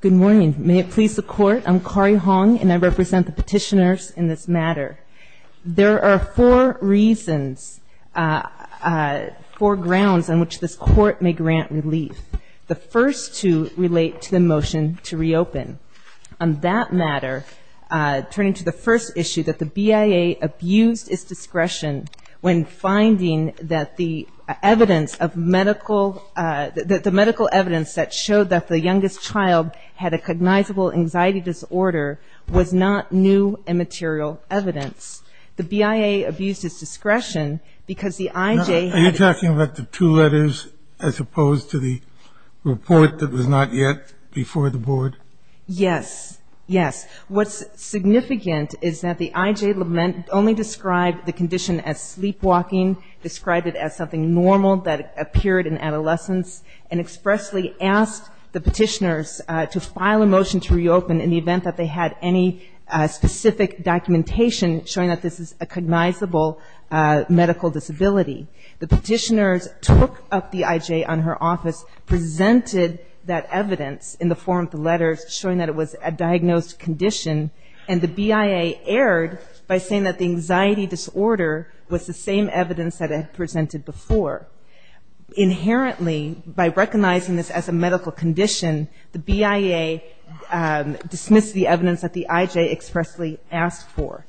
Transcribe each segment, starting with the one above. Good morning. May it please the Court, I'm Kari Hong and I represent the petitioners in this matter. There are four reasons, four grounds on which this Court may grant relief. The first two relate to the motion to reopen. On that matter, turning to the first issue, that the BIA abused its discretion when finding that the medical evidence that showed that the youngest child had a cognizable anxiety disorder was not new and material evidence. The BIA abused its discretion because the IJ... Are you talking about the two letters as opposed to the report that was not yet before the Board? Yes. Yes. What's significant is that the IJ only described the condition as sleepwalking, described it as something normal that appeared in adolescence, and expressly asked the petitioners to file a motion to reopen in the event that they had any specific documentation showing that this is a cognizable medical disability. The petitioners took up the IJ on her office, presented that evidence in the form of the letters showing that it was a diagnosed condition, and the BIA erred by saying that the anxiety disorder was the same evidence that it had presented before. Inherently, by recognizing this as a medical condition, the BIA dismissed the evidence that the IJ expressly asked for.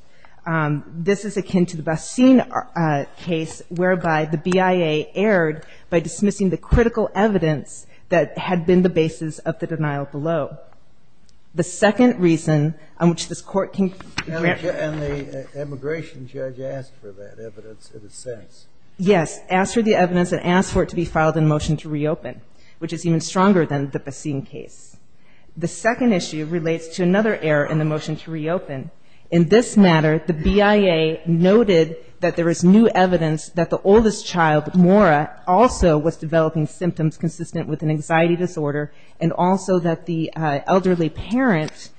This is akin to the Basin case whereby the BIA erred by dismissing the critical evidence that had been the basis of the denial below. The second reason on which this Court can... And the immigration judge asked for that evidence in a sense. Yes. Asked for the evidence and asked for it to be filed in motion to reopen, which is even stronger than the Basin case. The second issue relates to another error in the motion to reopen. In this matter, the BIA noted that there is new evidence that the oldest child, Maura, also was developing symptoms consistent with an anxiety disorder and also that the elderly parent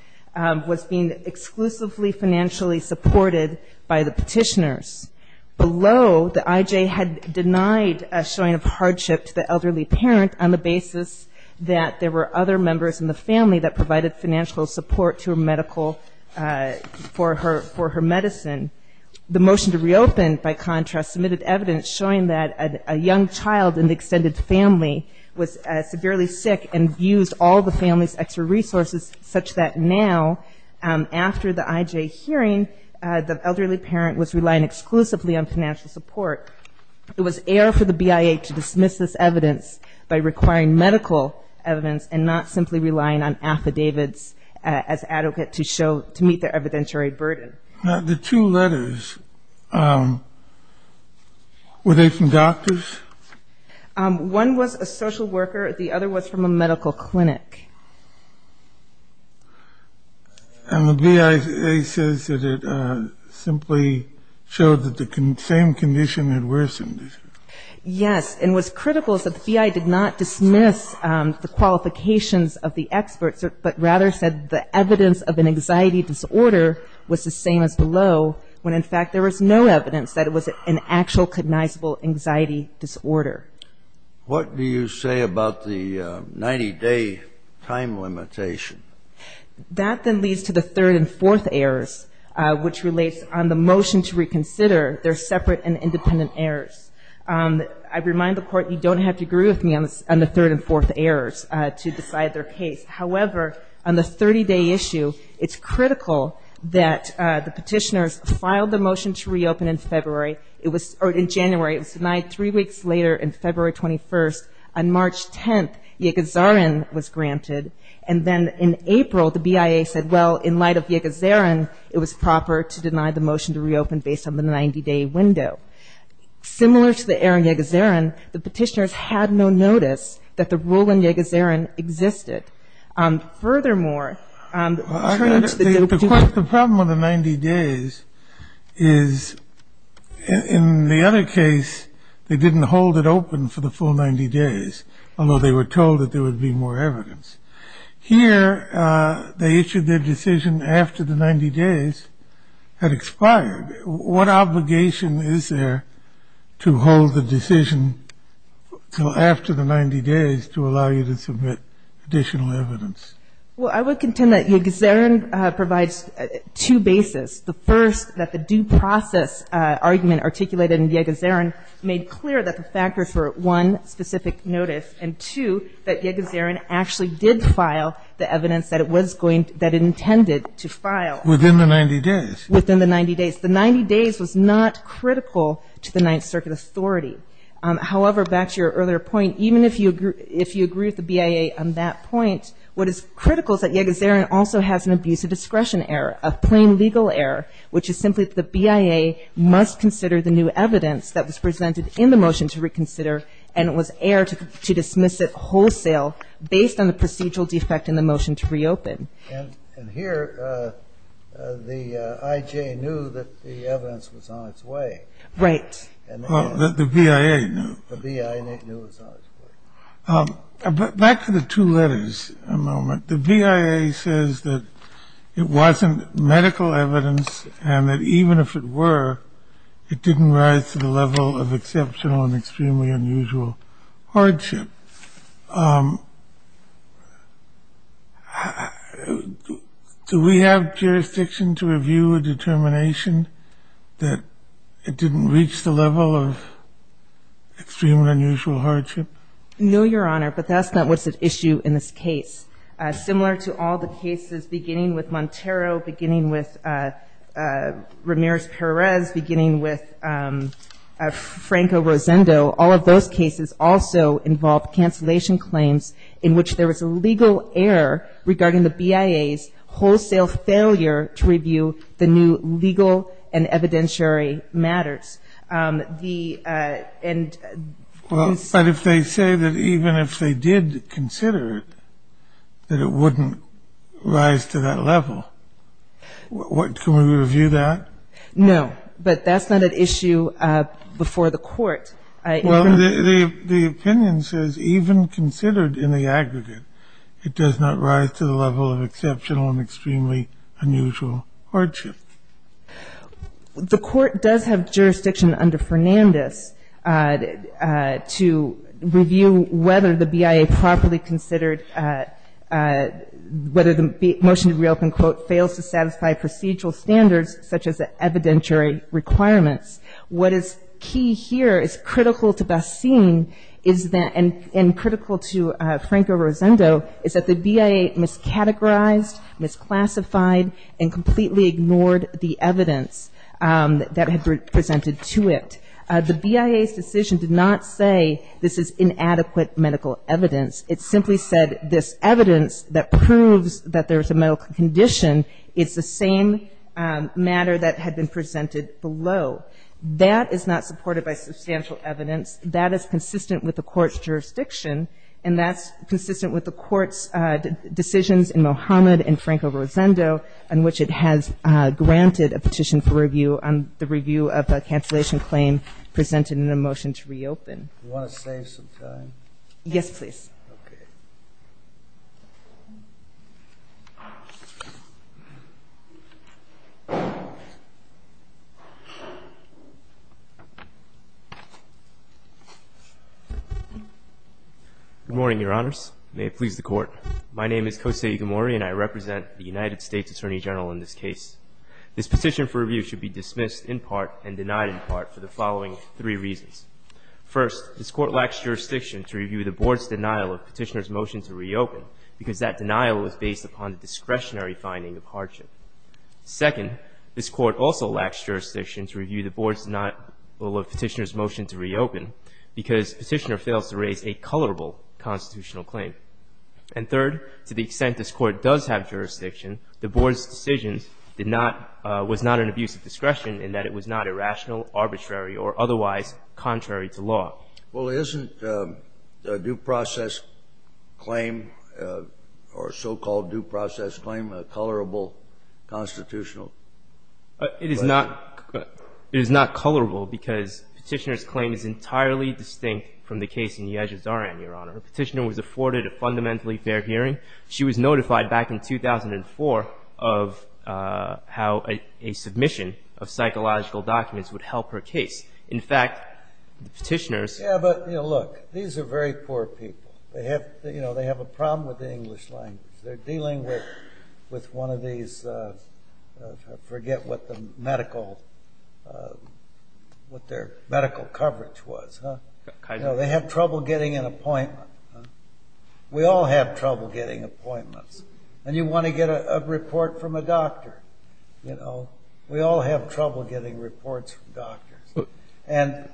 was being exclusively financially supported by the petitioners. Below, the IJ had denied a showing of hardship to the elderly parent on the basis that there were other members in the family that provided financial support to her medical...for her medicine. The motion to reopen, by contrast, submitted evidence showing that a young child in the extended family was severely sick and used all the family's extra resources such that now, after the IJ hearing, the elderly parent was relying exclusively on financial support. It was error for the BIA to dismiss this evidence by requiring medical evidence and not simply relying on affidavits as adequate to show...to meet the evidentiary burden. Now, the two letters, were they from doctors? One was a social worker. The other was from a medical clinic. And the BIA says that it simply showed that the same condition had worsened. Yes. And what's critical is that the BIA did not dismiss the qualifications of the experts, but rather said the evidence of an anxiety disorder was the same as below, when in fact there was no evidence that it was an actual cognizable anxiety disorder. What do you say about the 90-day time limitation? That then leads to the third and fourth errors, which relates on the motion to reconsider their separate and independent errors. I remind the Court, you don't have to agree with me on the third and fourth errors to decide their case. However, on the 30-day issue, it's critical that the petitioners filed the motion to reopen in February. In January, it was denied. Three weeks later, in February 21st, on March 10th, then in April, the BIA said, well, in light of Yegezerin, it was proper to deny the motion to reopen based on the 90-day window. Similar to the error in Yegezerin, the petitioners had no notice that the rule in Yegezerin existed. Furthermore, returning to the document... The problem with the 90 days is, in the other case, they didn't hold it open for the full 90 days, although they were told that there would be more evidence. Here, they issued their decision after the 90 days had expired. What obligation is there to hold the decision until after the 90 days to allow you to submit additional evidence? Well, I would contend that Yegezerin provides two bases. The first, that the due process argument articulated in Yegezerin made clear that the factors were, one, specific notice, and two, that Yegezerin actually did file the evidence that it intended to file. Within the 90 days? Within the 90 days. The 90 days was not critical to the Ninth Circuit authority. However, back to your earlier point, even if you agree with the BIA on that point, what is critical is that Yegezerin also has an abuse of discretion error, a plain legal error, which is simply that the BIA must consider the new evidence that was presented in the motion to reconsider and it was err to dismiss it wholesale based on the procedural defect in the motion to reopen. And here, the IJ knew that the evidence was on its way. Right. The BIA knew. The BIA knew it was on its way. Back to the two letters a moment. The BIA says that it wasn't medical evidence and that even if it were, it didn't rise to the level of exceptional and extremely unusual hardship. Do we have jurisdiction to review a determination that it didn't reach the level of extreme and unusual hardship? No, Your Honor, but that's not what's at issue in this case. Similar to all the cases beginning with Montero, beginning with Ramirez-Perez, beginning with Franco-Rosendo, all of those cases also involve cancellation claims in which there was a legal error regarding the BIA's wholesale failure to review the new legal and evidentiary matters. The end. Well, but if they say that even if they did consider it, that it wouldn't rise to that level, can we review that? No, but that's not at issue before the court. Well, the opinion says even considered in the aggregate, it does not rise to the level of exceptional and extremely unusual hardship. The court does have jurisdiction under Fernandez to review whether the BIA properly considered whether the motion to reopen, quote, fails to satisfy procedural standards such as the evidentiary requirements. What is key here is critical to Basim and critical to Franco-Rosendo, is that the BIA miscategorized, misclassified, and completely ignored the evidence that had been presented to it. The BIA's decision did not say this is inadequate medical evidence. It simply said this evidence that proves that there's a medical condition, it's the same matter that had been presented below. That is not supported by substantial evidence. That is consistent with the court's jurisdiction, and that's consistent with the court's decisions in Mohamed and Franco-Rosendo on which it has granted a petition for review on the review of the cancellation claim presented in the motion to reopen. You want to save some time? Yes, please. Okay. Good morning, Your Honors. May it please the Court. My name is Kosei Igamori, and I represent the United States Attorney General in this case. This petition for review should be dismissed in part and denied in part for the following three reasons. First, this Court lacks jurisdiction to review the Board's denial of petitioner's motion to reopen because that denial was based upon the discretionary finding of hardship. Second, this Court also lacks jurisdiction to review the Board's denial of petitioner's motion to reopen because petitioner fails to raise a colorable constitutional claim. And third, to the extent this Court does have jurisdiction, the Board's decision did not — was not an abuse of discretion in that it was not irrational, arbitrary or otherwise contrary to law. Well, isn't a due process claim, or a so-called due process claim, a colorable constitutional claim? It is not — it is not colorable because petitioner's claim is entirely distinct from the case in Yezhozaran, Your Honor. The petitioner was afforded a fundamentally fair hearing. She was notified back in 2004 of how a submission of psychological documents would help her case. In fact, the petitioners — Yeah, but, you know, look. These are very poor people. They have — you know, they have a problem with the English language. They're dealing with — with one of these — I forget what the medical — what their medical coverage was, huh? Kaiser. You know, they have trouble getting an appointment. We all have trouble getting appointments. And you want to get a report from a doctor, you know. We all have trouble getting reports from doctors. And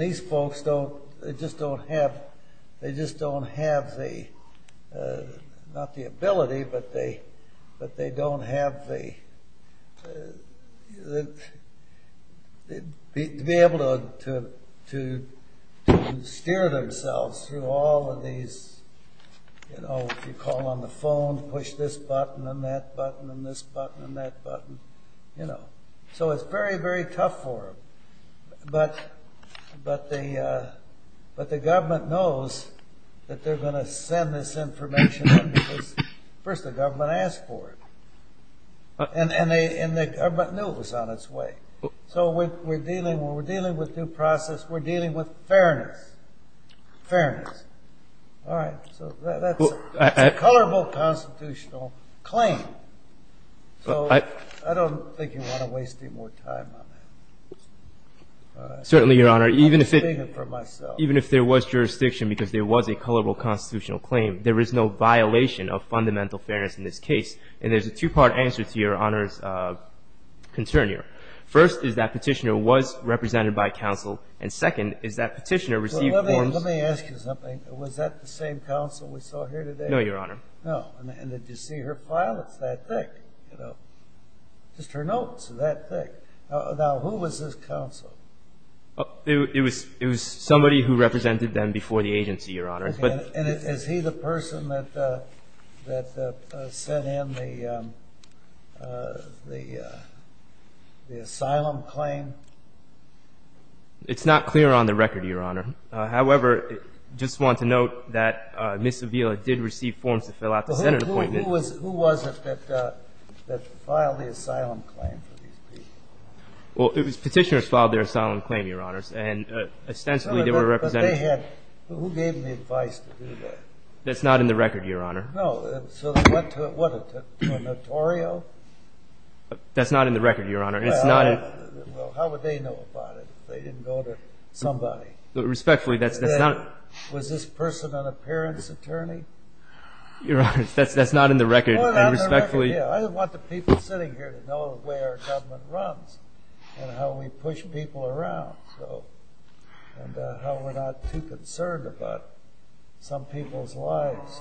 these folks don't — they just don't have — they just don't have the — not the ability, but they don't have the — to be able to steer themselves through all of these, you know, if you call on the phone, push this button and that button and this button and that button, you know. So it's very, very tough for them. But the government knows that they're going to send this information in because, first, the government asked for it. And the government knew it was on its way. So we're dealing with due process. We're dealing with fairness. Fairness. All right. So that's a colorable constitutional claim. So I don't think you want to waste any more time on that. Certainly, Your Honor. Even if it — I'm speaking for myself. Even if there was jurisdiction because there was a colorable constitutional claim, there is no violation of fundamental fairness in this case. And there's a two-part answer to Your Honor's concern here. First is that Petitioner was represented by counsel. And second is that Petitioner received forms — No, Your Honor. No. And did you see her file? It's that thick, you know. Just her notes are that thick. Now, who was this counsel? It was somebody who represented them before the agency, Your Honor. And is he the person that sent in the asylum claim? It's not clear on the record, Your Honor. However, I just want to note that Ms. Avila did receive forms to fill out the Senate appointment. Who was it that filed the asylum claim for these people? Well, it was Petitioner who filed their asylum claim, Your Honors. And ostensibly, they were represented — But they had — who gave the advice to do that? That's not in the record, Your Honor. No. So what, a notario? That's not in the record, Your Honor. And it's not — Well, how would they know about it if they didn't go to somebody? Respectfully, that's not — Was this person an appearance attorney? Your Honor, that's not in the record. No, it's not in the record. And respectfully — I want the people sitting here to know the way our government runs and how we push people around. And how we're not too concerned about some people's lives.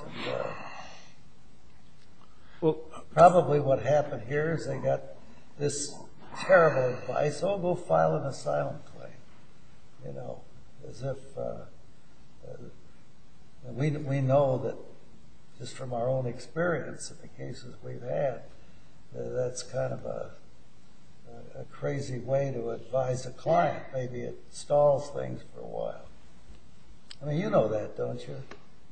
Probably what happened here is they got this terrible advice, Oh, go file an asylum claim. You know, as if — We know that just from our own experience in the cases we've had, that that's kind of a crazy way to advise a client. Maybe it stalls things for a while. I mean, you know that, don't you?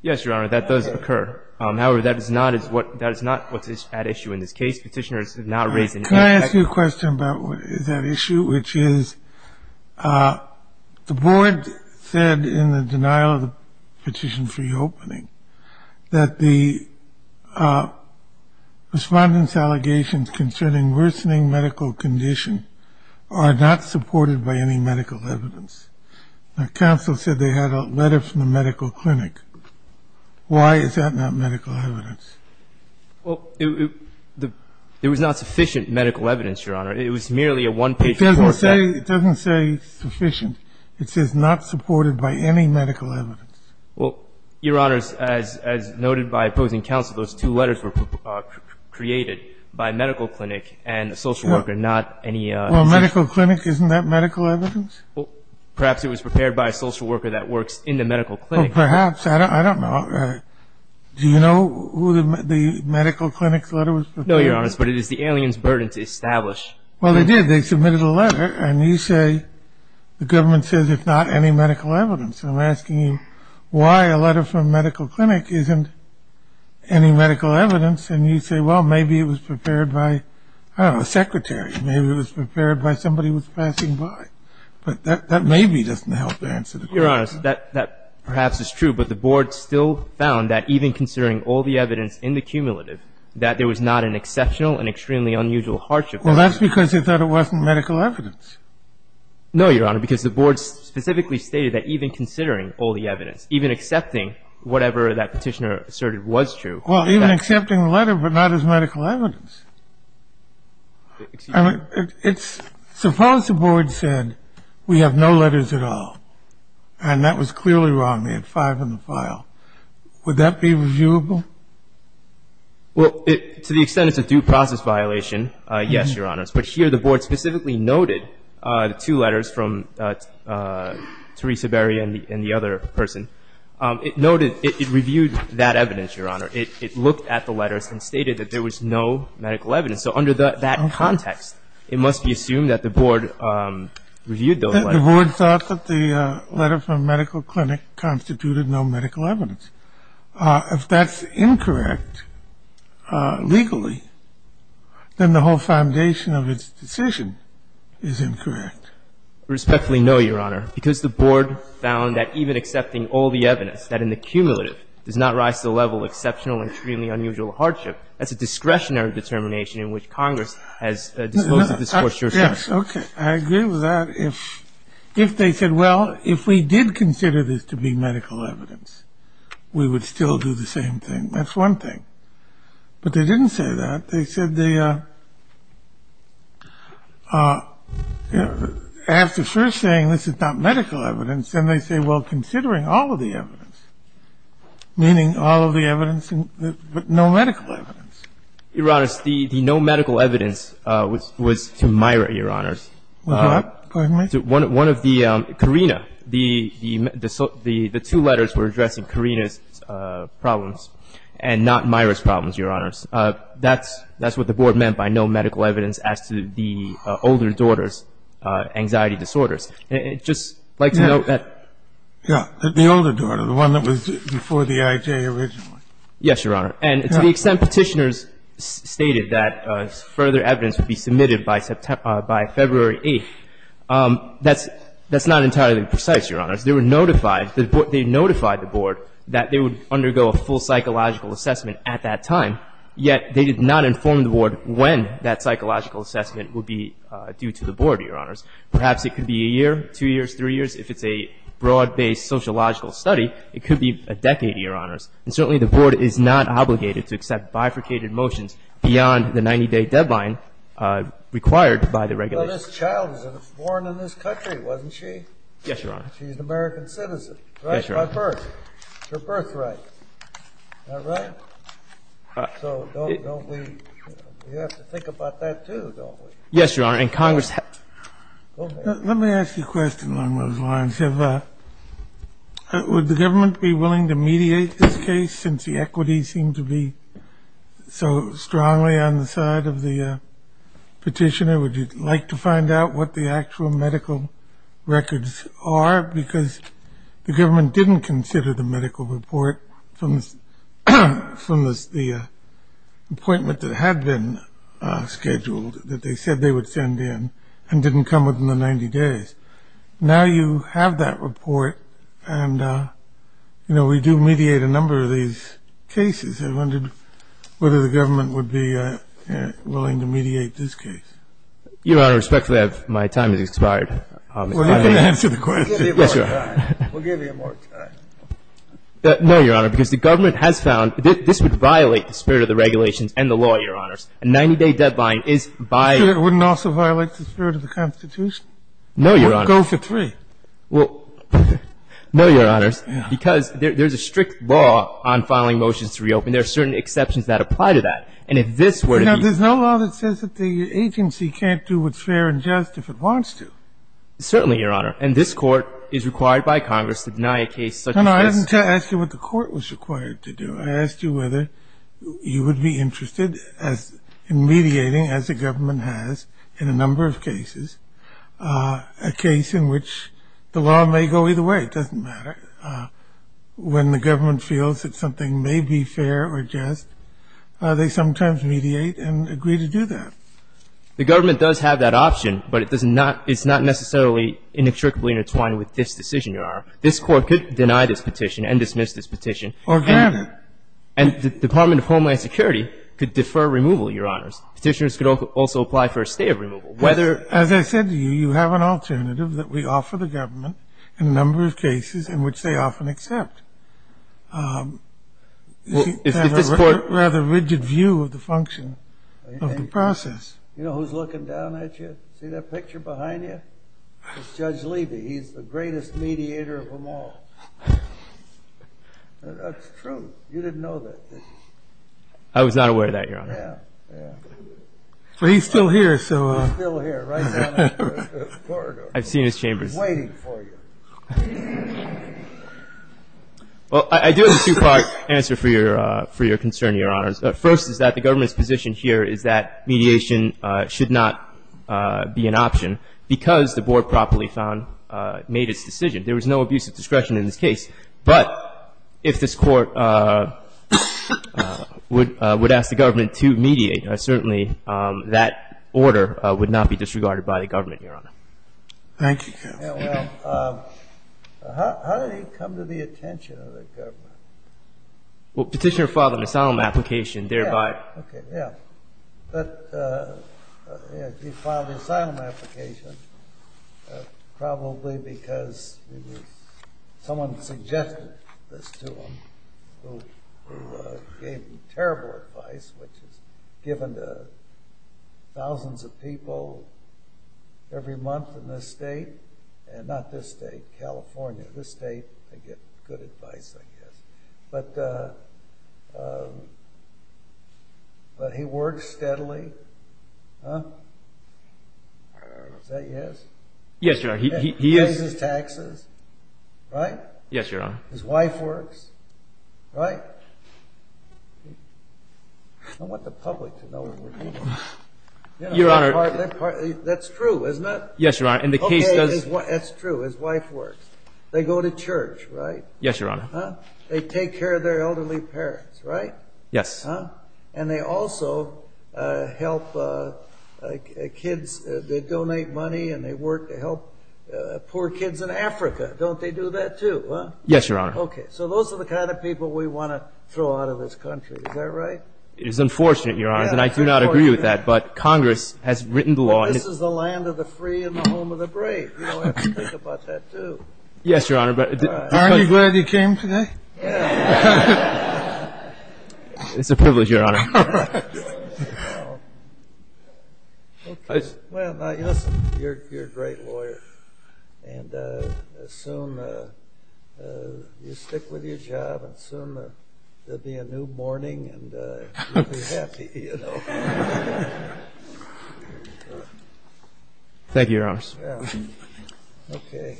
Yes, Your Honor, that does occur. However, that is not what's at issue in this case. Petitioner is not raising — Can I ask you a question about that issue, which is, the board said in the denial of the petition for reopening that the respondent's allegations concerning worsening medical condition are not supported by any medical evidence. Now, counsel said they had a letter from the medical clinic. Why is that not medical evidence? Well, it was not sufficient medical evidence, Your Honor. It was merely a one-page report that — It doesn't say sufficient. It says not supported by any medical evidence. Well, Your Honor, as noted by opposing counsel, those two letters were created by medical clinic and a social worker, not any — Well, medical clinic, isn't that medical evidence? Well, perhaps it was prepared by a social worker that works in the medical clinic. Well, perhaps. I don't know. Do you know who the medical clinic's letter was prepared for? No, Your Honor, but it is the alien's burden to establish. Well, they did. They submitted a letter, and you say the government says it's not any medical evidence. And I'm asking you why a letter from a medical clinic isn't any medical evidence, and you say, well, maybe it was prepared by, I don't know, a secretary. Maybe it was prepared by somebody who was passing by. But that maybe doesn't help answer the question. Your Honor, that perhaps is true, but the board still found that even considering all the evidence in the cumulative, that there was not an exceptional and extremely unusual hardship. Well, that's because they thought it wasn't medical evidence. No, Your Honor, because the board specifically stated that even considering all the evidence, even accepting whatever that petitioner asserted was true. Well, even accepting the letter but not as medical evidence. Suppose the board said we have no letters at all, and that was clearly wrong. They had five in the file. Would that be reviewable? Well, to the extent it's a due process violation, yes, Your Honor. But here the board specifically noted the two letters from Theresa Berry and the other person. It noted, it reviewed that evidence, Your Honor. It looked at the letters and stated that there was no medical evidence. So under that context, it must be assumed that the board reviewed those letters. The board thought that the letter from medical clinic constituted no medical evidence. If that's incorrect legally, then the whole foundation of its decision is incorrect. Respectfully, no, Your Honor, because the board found that even accepting all the evidence, that in the cumulative does not rise to the level of exceptional and extremely unusual hardship. That's a discretionary determination in which Congress has disposed of this court's jurisdiction. Yes. Okay. I agree with that. If they said, well, if we did consider this to be medical evidence, we would still do the same thing. That's one thing. But they didn't say that. They said they, after first saying this is not medical evidence, then they say, well, considering all of the evidence, meaning all of the evidence, but no medical evidence. Your Honors, the no medical evidence was to Myra, Your Honors. What? Pardon me? One of the, Carina, the two letters were addressing Carina's problems and not Myra's problems, Your Honors. That's what the board meant by no medical evidence as to the older daughter's anxiety disorders. And I'd just like to note that the older daughter, the one that was before the IJ originally. Yes, Your Honor. And to the extent Petitioners stated that further evidence would be submitted by February 8th, that's not entirely precise, Your Honors. They notified the board that they would undergo a full psychological assessment at that time, yet they did not inform the board when that psychological assessment would be due to the board, Your Honors. Perhaps it could be a year, two years, three years. If it's a broad-based sociological study, it could be a decade, Your Honors. And certainly the board is not obligated to accept bifurcated motions beyond the 90-day deadline required by the regulations. Well, this child was born in this country, wasn't she? Yes, Your Honor. She's an American citizen. Yes, Your Honor. Right by birth. It's her birthright. Is that right? So don't we, we have to think about that, too, don't we? Yes, Your Honor. Let me ask you a question along those lines. Would the government be willing to mediate this case since the equities seem to be so strongly on the side of the Petitioner? Would you like to find out what the actual medical records are? Because the government didn't consider the medical report from the appointment that had been scheduled, that they said they would send in, and didn't come within the 90 days. Now you have that report, and, you know, we do mediate a number of these cases. I wondered whether the government would be willing to mediate this case. Your Honor, respectfully, my time has expired. Well, let me answer the question. Yes, Your Honor. We'll give you more time. No, Your Honor, because the government has found this would violate the spirit of the regulations and the law, Your Honors. A 90-day deadline is by ---- So it wouldn't also violate the spirit of the Constitution? No, Your Honor. Go for three. Well, no, Your Honors, because there's a strict law on filing motions to reopen. There are certain exceptions that apply to that. And if this were to be ---- Now, there's no law that says that the agency can't do what's fair and just if it wants to. Certainly, Your Honor. And this Court is required by Congress to deny a case such as this. I didn't ask you what the Court was required to do. I asked you whether you would be interested in mediating, as the government has in a number of cases, a case in which the law may go either way. It doesn't matter. When the government feels that something may be fair or just, they sometimes mediate and agree to do that. The government does have that option, but it's not necessarily inextricably intertwined with this decision, Your Honor. This Court could deny this petition and dismiss this petition. Or can it? And the Department of Homeland Security could defer removal, Your Honors. Petitioners could also apply for a stay of removal. Whether ---- As I said to you, you have an alternative that we offer the government in a number of cases in which they often accept. If this Court ---- Rather rigid view of the function of the process. You know who's looking down at you? See that picture behind you? It's Judge Levy. He's the greatest mediator of them all. That's true. You didn't know that, did you? I was not aware of that, Your Honor. Yeah, yeah. Well, he's still here, so ---- He's still here, right down that corridor. I've seen his chambers. He's waiting for you. Well, I do have a two-part answer for your concern, Your Honors. First is that the government's position here is that mediation should not be an option because the Board properly found, made its decision. There was no abuse of discretion in this case. But if this Court would ask the government to mediate, certainly that order would not be disregarded by the government, Your Honor. Thank you, counsel. Well, how did it come to the attention of the government? Well, Petitioner filed an asylum application, thereby ---- Yeah, okay, yeah. He filed an asylum application probably because someone suggested this to him who gave him terrible advice, which is given to thousands of people every month in this state. Not this state, California. This state, they get good advice, I guess. But he works steadily, huh? Is that yes? Yes, Your Honor. He pays his taxes, right? Yes, Your Honor. His wife works, right? I want the public to know what we're talking about. Your Honor. That's true, isn't it? Yes, Your Honor. And the case does ---- Okay, that's true. His wife works. They go to church, right? Yes, Your Honor. They take care of their elderly parents, right? Yes. And they also help kids. They donate money and they work to help poor kids in Africa. Don't they do that, too? Yes, Your Honor. Okay, so those are the kind of people we want to throw out of this country. Is that right? It is unfortunate, Your Honor, and I do not agree with that, but Congress has written the law ---- But this is the land of the free and the home of the brave. You don't have to think about that, too. Yes, Your Honor, but ---- Aren't you glad you came today? Yes. It's a privilege, Your Honor. Okay, well, you're a great lawyer, and soon you stick with your job, and soon there will be a new morning and you'll be happy, you know. Thank you, Your Honor. Okay.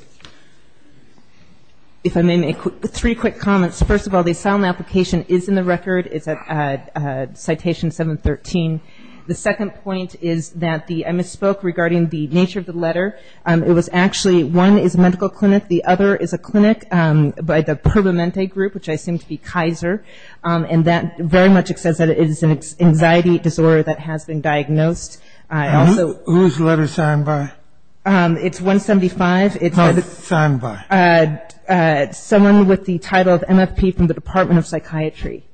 If I may make three quick comments. First of all, the asylum application is in the record. It's at Citation 713. The second point is that I misspoke regarding the nature of the letter. It was actually one is a medical clinic, the other is a clinic by the Pervomente Group, which I assume to be Kaiser, and that very much says that it is an anxiety disorder that has been diagnosed. Whose letter is signed by? It's 175. Signed by? Someone with the title of MFP from the Department of Psychiatry.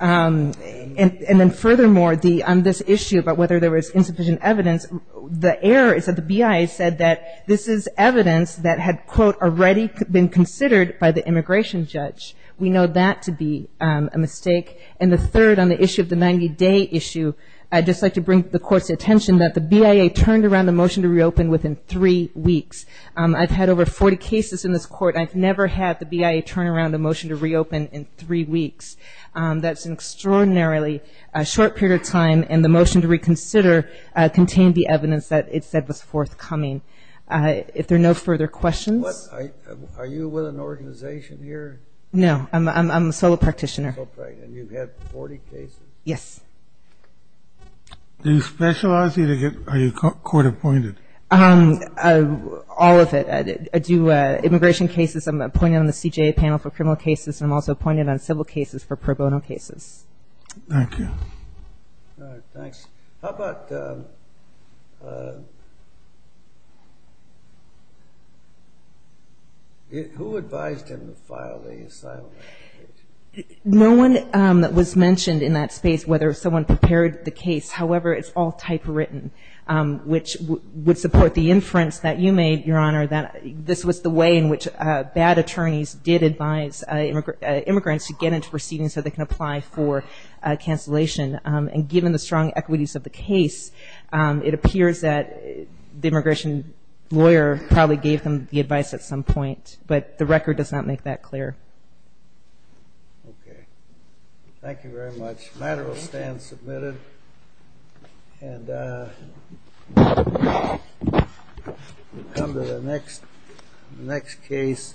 And then furthermore, on this issue about whether there was insufficient evidence, the error is that the BIA said that this is evidence that had, quote, already been considered by the immigration judge. We know that to be a mistake. And the third, on the issue of the 90-day issue, I'd just like to bring the Court's attention that the BIA turned around the motion to reopen within three weeks. I've had over 40 cases in this Court. I've never had the BIA turn around a motion to reopen in three weeks. That's an extraordinarily short period of time, and the motion to reconsider contained the evidence that it said was forthcoming. If there are no further questions. Are you with an organization here? No, I'm a solo practitioner. And you've had 40 cases? Yes. Do you specialize? Are you court-appointed? All of it. I do immigration cases. I'm appointed on the CJA panel for criminal cases, and I'm also appointed on civil cases for pro bono cases. Thank you. All right, thanks. How about who advised him to file the asylum application? No one was mentioned in that space whether someone prepared the case. However, it's all typewritten, which would support the inference that you made, Your Honor, that this was the way in which bad attorneys did advise immigrants to get into proceedings so they can apply for cancellation. And given the strong equities of the case, it appears that the immigration lawyer probably gave them the advice at some point. But the record does not make that clear. Okay. Thank you very much. The matter will stand submitted. And we'll come to the next case.